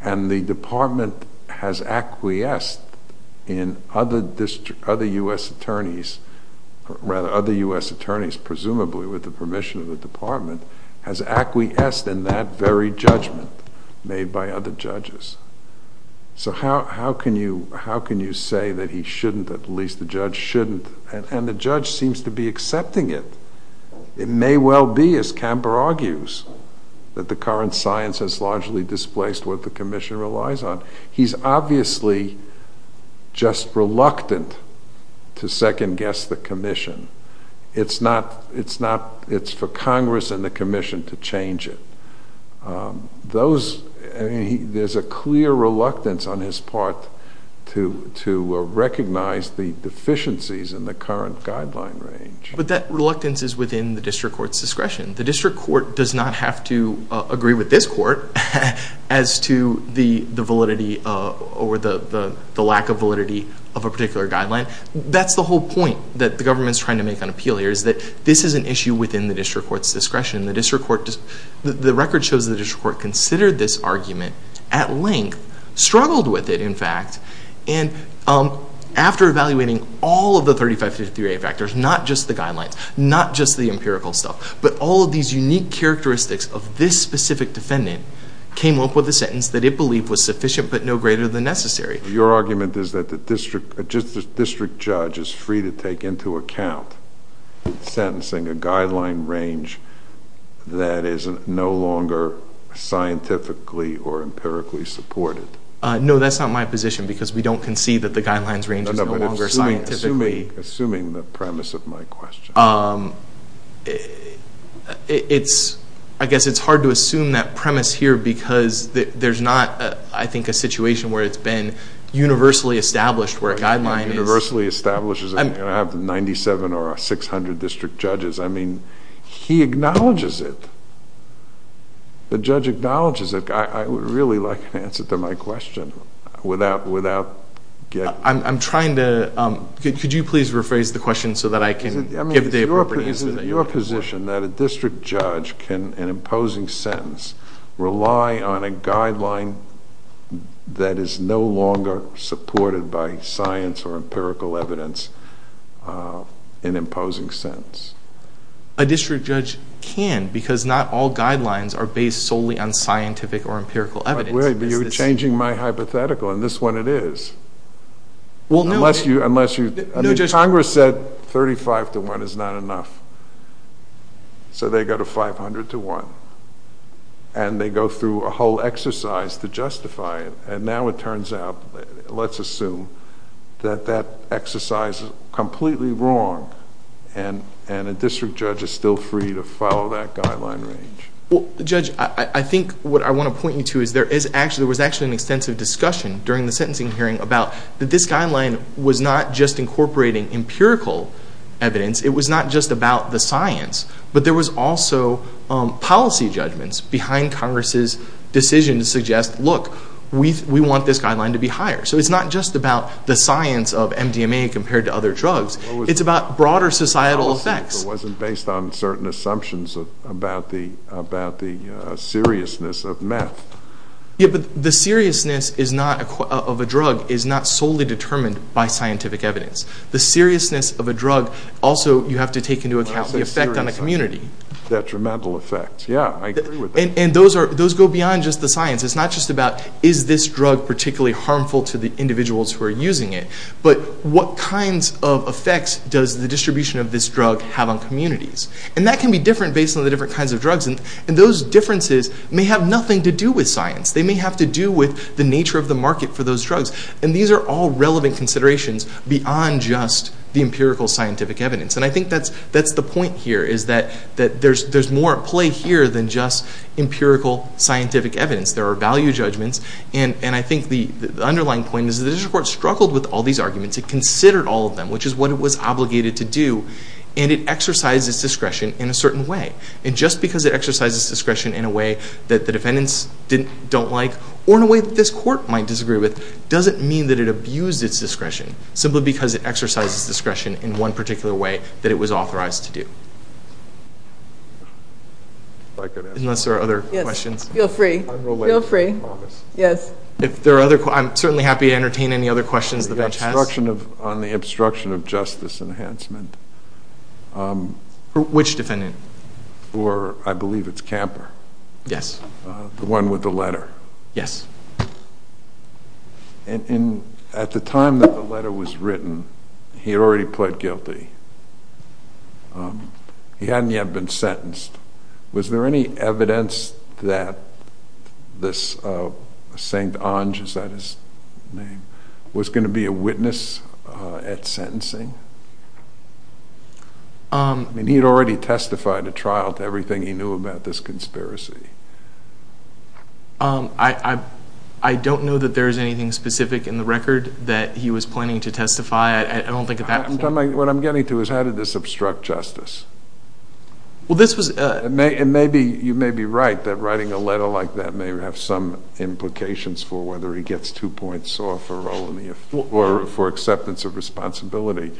And the Department has acquiesced in other U.S. attorneys, rather other U.S. attorneys presumably with the permission of the Department has acquiesced in that very judgment made by other judges. So how can you, how can you say that he shouldn't, at least the judge shouldn't, and the judge seems to be accepting it. It may well be, as Camper argues, that the current science has largely displaced what the commission relies on. He's obviously just reluctant to second guess the commission. It's not, it's not, it's for Congress and the commission to change it. Those, there's a clear reluctance on his part to recognize the deficiencies in the current guideline range. But that reluctance is within the district court's discretion. The district court does not have to agree with this court as to the validity or the lack of validity of a particular guideline. That's the whole point that the government's trying to make on appeal here is that this is an issue within the district court's discretion. The district court, the record shows the district court considered this argument at length, struggled with it in fact, and after evaluating all of the 3553A factors, not just the guidelines, not just the empirical stuff, but all of these unique characteristics of this specific defendant, came up with a sentence that it believed was sufficient but no greater than necessary. Your argument is that the district, just the district judge is free to into account sentencing a guideline range that is no longer scientifically or empirically supported. No, that's not my position because we don't concede that the guidelines range is no longer scientifically. Assuming the premise of my question. I guess it's hard to assume that premise here because there's not, I think, a situation where it's been universally established where a guideline is... Universally established, you're going to have 97 or 600 district judges. He acknowledges it. The judge acknowledges it. I would really like an answer to my question without getting... I'm trying to, could you please rephrase the question so that I can give the appropriate answer that you want. Is it your position that a district judge can, in an imposing sentence, rely on a guideline that is no longer supported by science or empirical evidence in imposing sentence? A district judge can because not all guidelines are based solely on scientific or empirical evidence. Wait, you're changing my hypothetical and this one it is. Congress said 35 to 1 is not enough, so they go to 500 to 1. They go through a whole exercise to justify it and now it turns out, let's assume, that that exercise is completely wrong and a district judge is still free to follow that guideline range. Judge, I think what I want to point you to is there was actually an extensive discussion during the sentencing hearing about that this guideline was not just incorporating empirical evidence. It was not just about the science, but there was also policy judgments behind Congress's decision to suggest, look, we want this guideline to be higher, so it's not just about the science of MDMA compared to other drugs. It's about broader societal effects. It wasn't based on certain assumptions about the seriousness of meth. Yeah, but the seriousness of a drug is not solely determined by scientific evidence. The seriousness of a drug, also, you have to take into account the effect on the community. Detrimental effect. Yeah, I agree with that. And those go beyond just the science. It's not just about, is this drug particularly harmful to the individuals who are using it, but what kinds of effects does the distribution of this drug have on communities? And that can be different based on the different kinds of drugs, and those differences may have nothing to do with science. They may have to do with the nature of the market for those drugs, and these are all relevant considerations beyond just the empirical scientific evidence. And I think that's the point here, is that there's more at play here than just empirical scientific evidence. There are value judgments, and I think the underlying point is the district court struggled with all these arguments. It considered all of them, which is what it was obligated to do, and it exercised its discretion in a certain way. And just because it exercised its discretion in a way that the defendants don't like, or in a way that this court might disagree with, doesn't mean that it abused its discretion, simply because it exercised its discretion in one particular way that it was authorized to do. Unless there are other questions. Yes, feel free, feel free, yes. If there are other questions, I'm certainly happy to entertain any other questions the bench has. On the obstruction of justice enhancement. Which defendant? For, I believe it's Camper. Yes. The one with the letter. Yes. And at the time that the letter was written, he had already pled guilty. He hadn't yet been sentenced. Was there any evidence that this St. Ange, is that his name, was going to be a witness at sentencing? I mean, he had already testified at trial to everything he knew about this conspiracy. I don't know that there is anything specific in the record that he was planning to testify. I don't think at that point. What I'm getting to is, how did this obstruct justice? Well, this was a. It may be, you may be right, that writing a letter like that may have some implications for whether he gets two points off, or for acceptance of responsibility.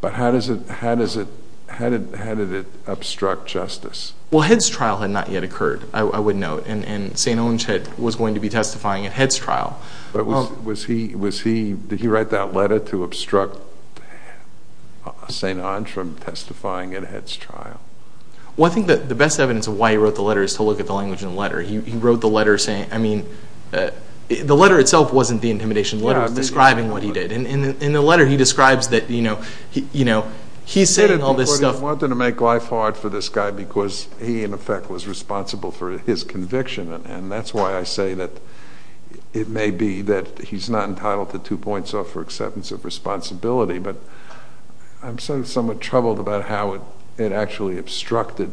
But how does it, how does it, how did it obstruct justice? Well, Head's trial had not yet occurred, I would note. And St. Ange was going to be testifying at Head's trial. Was he, was he, did he write that letter to obstruct St. Ange from testifying at Head's trial? Well, I think that the best evidence of why he wrote the letter is to look at the language in the letter. He wrote the letter saying, I mean, the letter itself wasn't the intimidation letter, it was describing what he did. And in the letter he describes that, you know, he's saying all this stuff. Wanted to make life hard for this guy because he, in effect, was responsible for his conviction. And that's why I say that it may be that he's not entitled to two points off for acceptance of responsibility. But I'm somewhat troubled about how it actually obstructed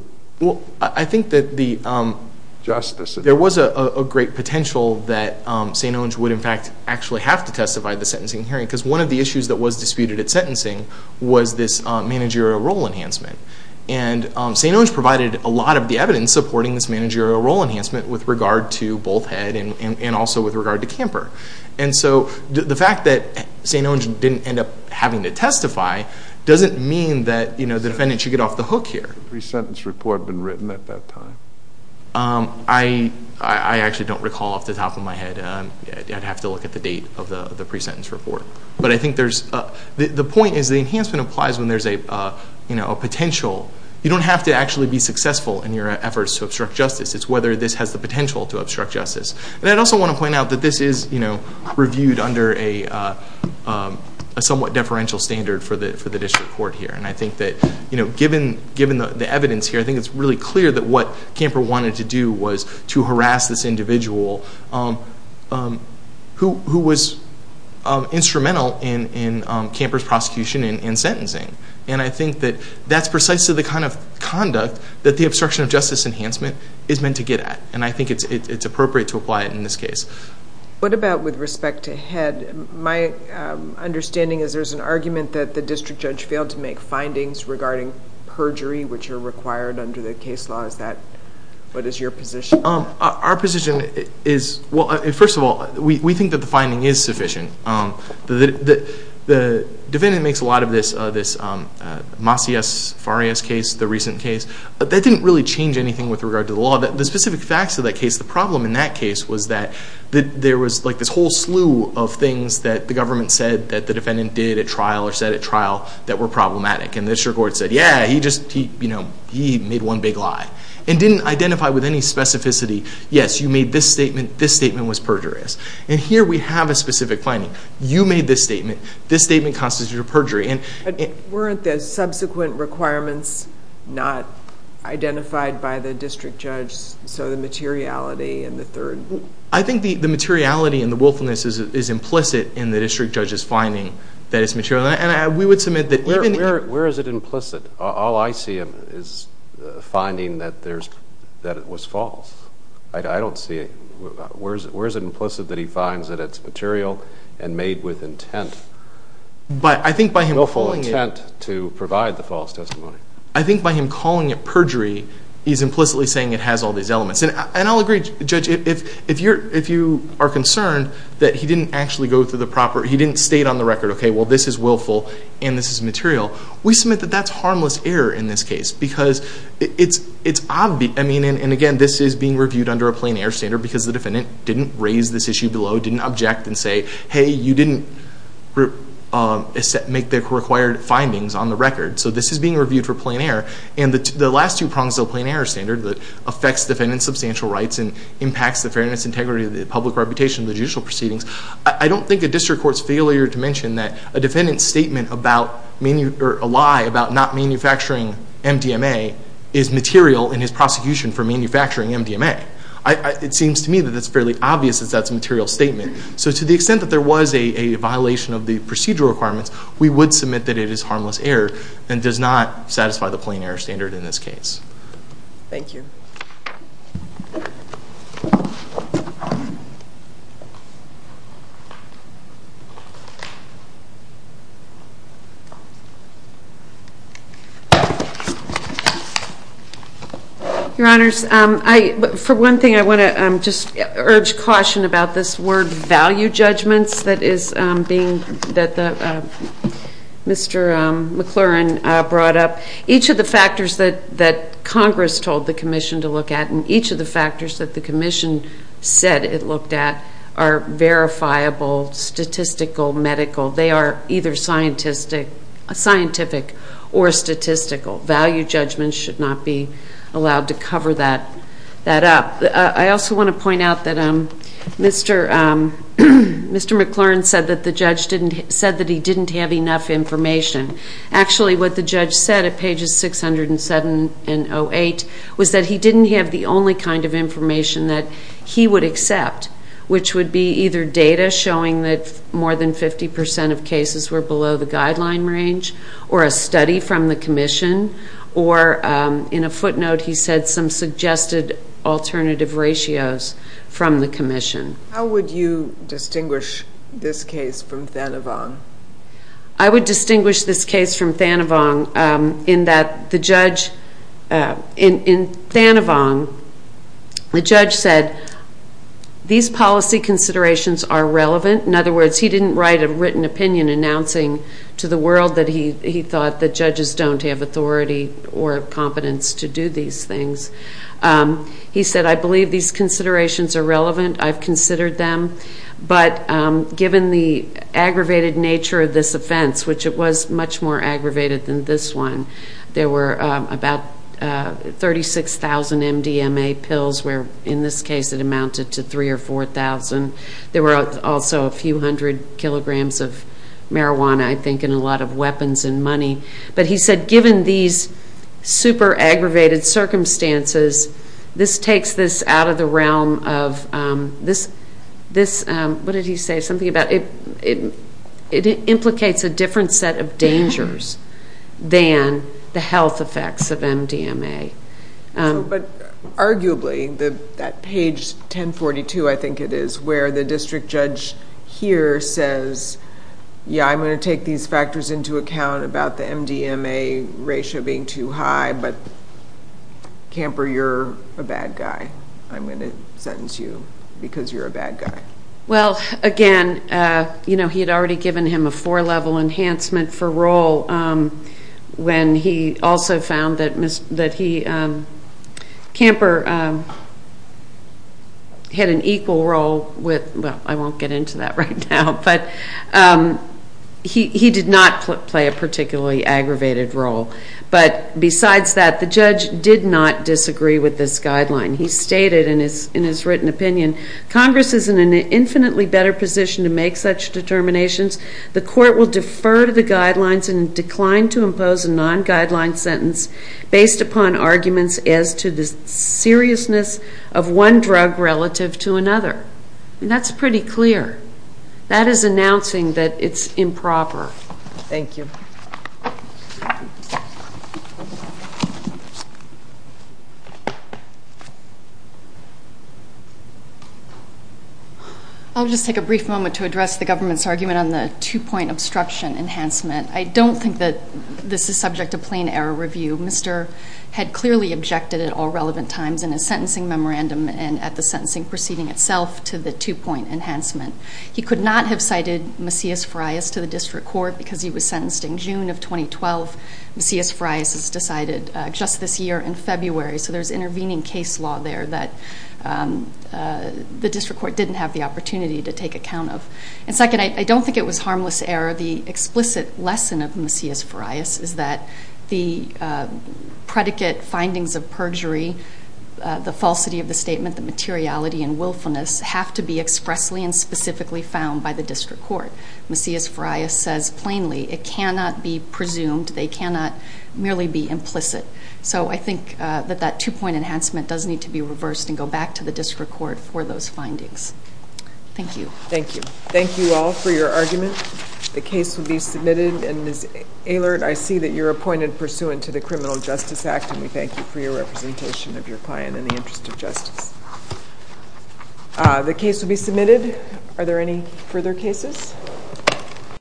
justice. There was a great potential that St. Ange would, in fact, actually have to testify at the sentencing hearing. Because one of the issues that was disputed at sentencing was this managerial role enhancement. And St. Ange provided a lot of the evidence supporting this managerial role enhancement with regard to both Head and also with regard to Camper. And so the fact that St. Ange didn't end up having to testify doesn't mean that, you know, the defendant should get off the hook here. Has the pre-sentence report been written at that time? I actually don't recall off the top of my head. I'd have to look at the date of the pre-sentence report. But I think the point is the enhancement applies when there's a potential. You don't have to actually be successful in your efforts to obstruct justice. It's whether this has the potential to obstruct justice. And I'd also want to point out that this is reviewed under a somewhat deferential standard for the district court here. And I think that given the evidence here, I think it's really clear that what this individual, who was instrumental in Camper's prosecution and sentencing. And I think that that's precisely the kind of conduct that the obstruction of justice enhancement is meant to get at. And I think it's appropriate to apply it in this case. What about with respect to Head? My understanding is there's an argument that the district judge failed to make findings regarding perjury, which are required under the case law. Is that, what is your position? Our position is, well, first of all, we think that the finding is sufficient. The defendant makes a lot of this Macias-Farias case, the recent case. That didn't really change anything with regard to the law. The specific facts of that case, the problem in that case was that there was like this whole slew of things that the government said that the defendant did at trial or said at trial that were problematic. And the district court said, yeah, he just, you know, he made one big lie. And didn't identify with any specificity, yes, you made this statement, this statement was perjurious. And here we have a specific finding. You made this statement. This statement constitutes a perjury. And weren't the subsequent requirements not identified by the district judge? So the materiality and the third? I think the materiality and the willfulness is implicit in the district judge's finding that it's material. And we would submit that even... Where is it implicit? All I see is finding that there's... That it was false. I don't see it. Where is it implicit that he finds that it's material and made with intent? But I think by him... Willful intent to provide the false testimony. I think by him calling it perjury, he's implicitly saying it has all these elements. And I'll agree, Judge, if you are concerned that he didn't actually go through the proper... He didn't state on the record, okay, well, this is willful and this is material. We submit that that's harmless error in this case because it's obvious. I mean, and again, this is being reviewed under a plain error standard because the defendant didn't raise this issue below, didn't object and say, hey, you didn't make the required findings on the record. So this is being reviewed for plain error. And the last two prongs of the plain error standard that affects defendant's substantial rights and impacts the fairness, integrity, the public reputation of the judicial proceedings. I don't think a district court's failure to mention that a defendant's statement about a lie about not manufacturing MDMA is material in his prosecution for manufacturing MDMA. It seems to me that it's fairly obvious that that's a material statement. So to the extent that there was a violation of the procedural requirements, we would submit that it is harmless error and does not satisfy the plain error standard in this case. Thank you. Your Honors, for one thing, I want to just urge caution about this word value judgments that Mr. McLaurin brought up. Each of the factors that Congress told the Commission to look at and each of the factors that the Commission said it looked at are verifiable, statistical, medical. They are either scientific or statistical. Value judgments should not be allowed to cover that up. I also want to point out that Mr. McLaurin said that the judge said that he didn't have enough information. Actually, what the judge said at pages 607 and 608 was that he didn't have the only kind of information that he would accept, which would be either data showing that more than 50 percent of cases were below the guideline range, or a study from the Commission, or in a footnote he said some suggested alternative ratios from the Commission. How would you distinguish this case from Thanavong? I would distinguish this case from Thanavong in that the judge in Thanavong, the judge said these policy considerations are relevant. In other words, he didn't write a written opinion announcing to the world that he thought the judges don't have authority or competence to do these things. He said, I believe these considerations are relevant. I've considered them. But given the aggravated nature of this offense, which it was much more aggravated than this one, there were about 36,000 MDMA pills where in this case it amounted to 3,000 or 4,000. There were also a few hundred kilograms of marijuana, I think, and a lot of weapons and money. But he said given these super aggravated circumstances, this takes this out of the realm of this, what did he say, something about it implicates a different set of dangers than the health effects of MDMA. But arguably, that page 1042, I think it is, where the district judge here says, yeah, I'm going to take these factors into account about the MDMA ratio being too high, but Camper, you're a bad guy. I'm going to sentence you because you're a bad guy. Well, again, you know, he had already given him a four-level enhancement for roll when he also found that Camper had an equal role with, well, I won't get into that right now, but he did not play a particularly aggravated role. But besides that, the judge did not disagree with this guideline. He stated in his written opinion, Congress is in an infinitely better position to make such determinations. The court will defer to the guidelines and decline to impose a non-guideline sentence based upon arguments as to the seriousness of one drug relative to another. That's pretty clear. That is announcing that it's improper. Thank you. I'll just take a brief moment to address the government's argument on the two-point obstruction enhancement. I don't think that this is subject to plain error review. Mr. had clearly objected at all relevant times in his sentencing memorandum and at the sentencing proceeding itself to the two-point enhancement. He could not have cited Macias-Farias to the district court because he was sentenced in June of 2012. Macias-Farias is decided just this year in February. So there's intervening case law there that the district court didn't have the opportunity to take account of. And second, I don't think it was harmless error. The explicit lesson of Macias-Farias is that the predicate findings of perjury, the falsity of the statement, the materiality and willfulness have to be expressly and specifically found by the district court. Macias-Farias says plainly it cannot be presumed. They cannot merely be implicit. So I think that that two-point enhancement does need to be reversed and go back to the district court for those findings. Thank you. Thank you. Thank you all for your argument. The case will be submitted. And Ms. Ehlert, I see that you're appointed pursuant to the Criminal Justice Act. And we thank you for your representation of your client in the interest of justice. The case will be submitted. Are there any further cases?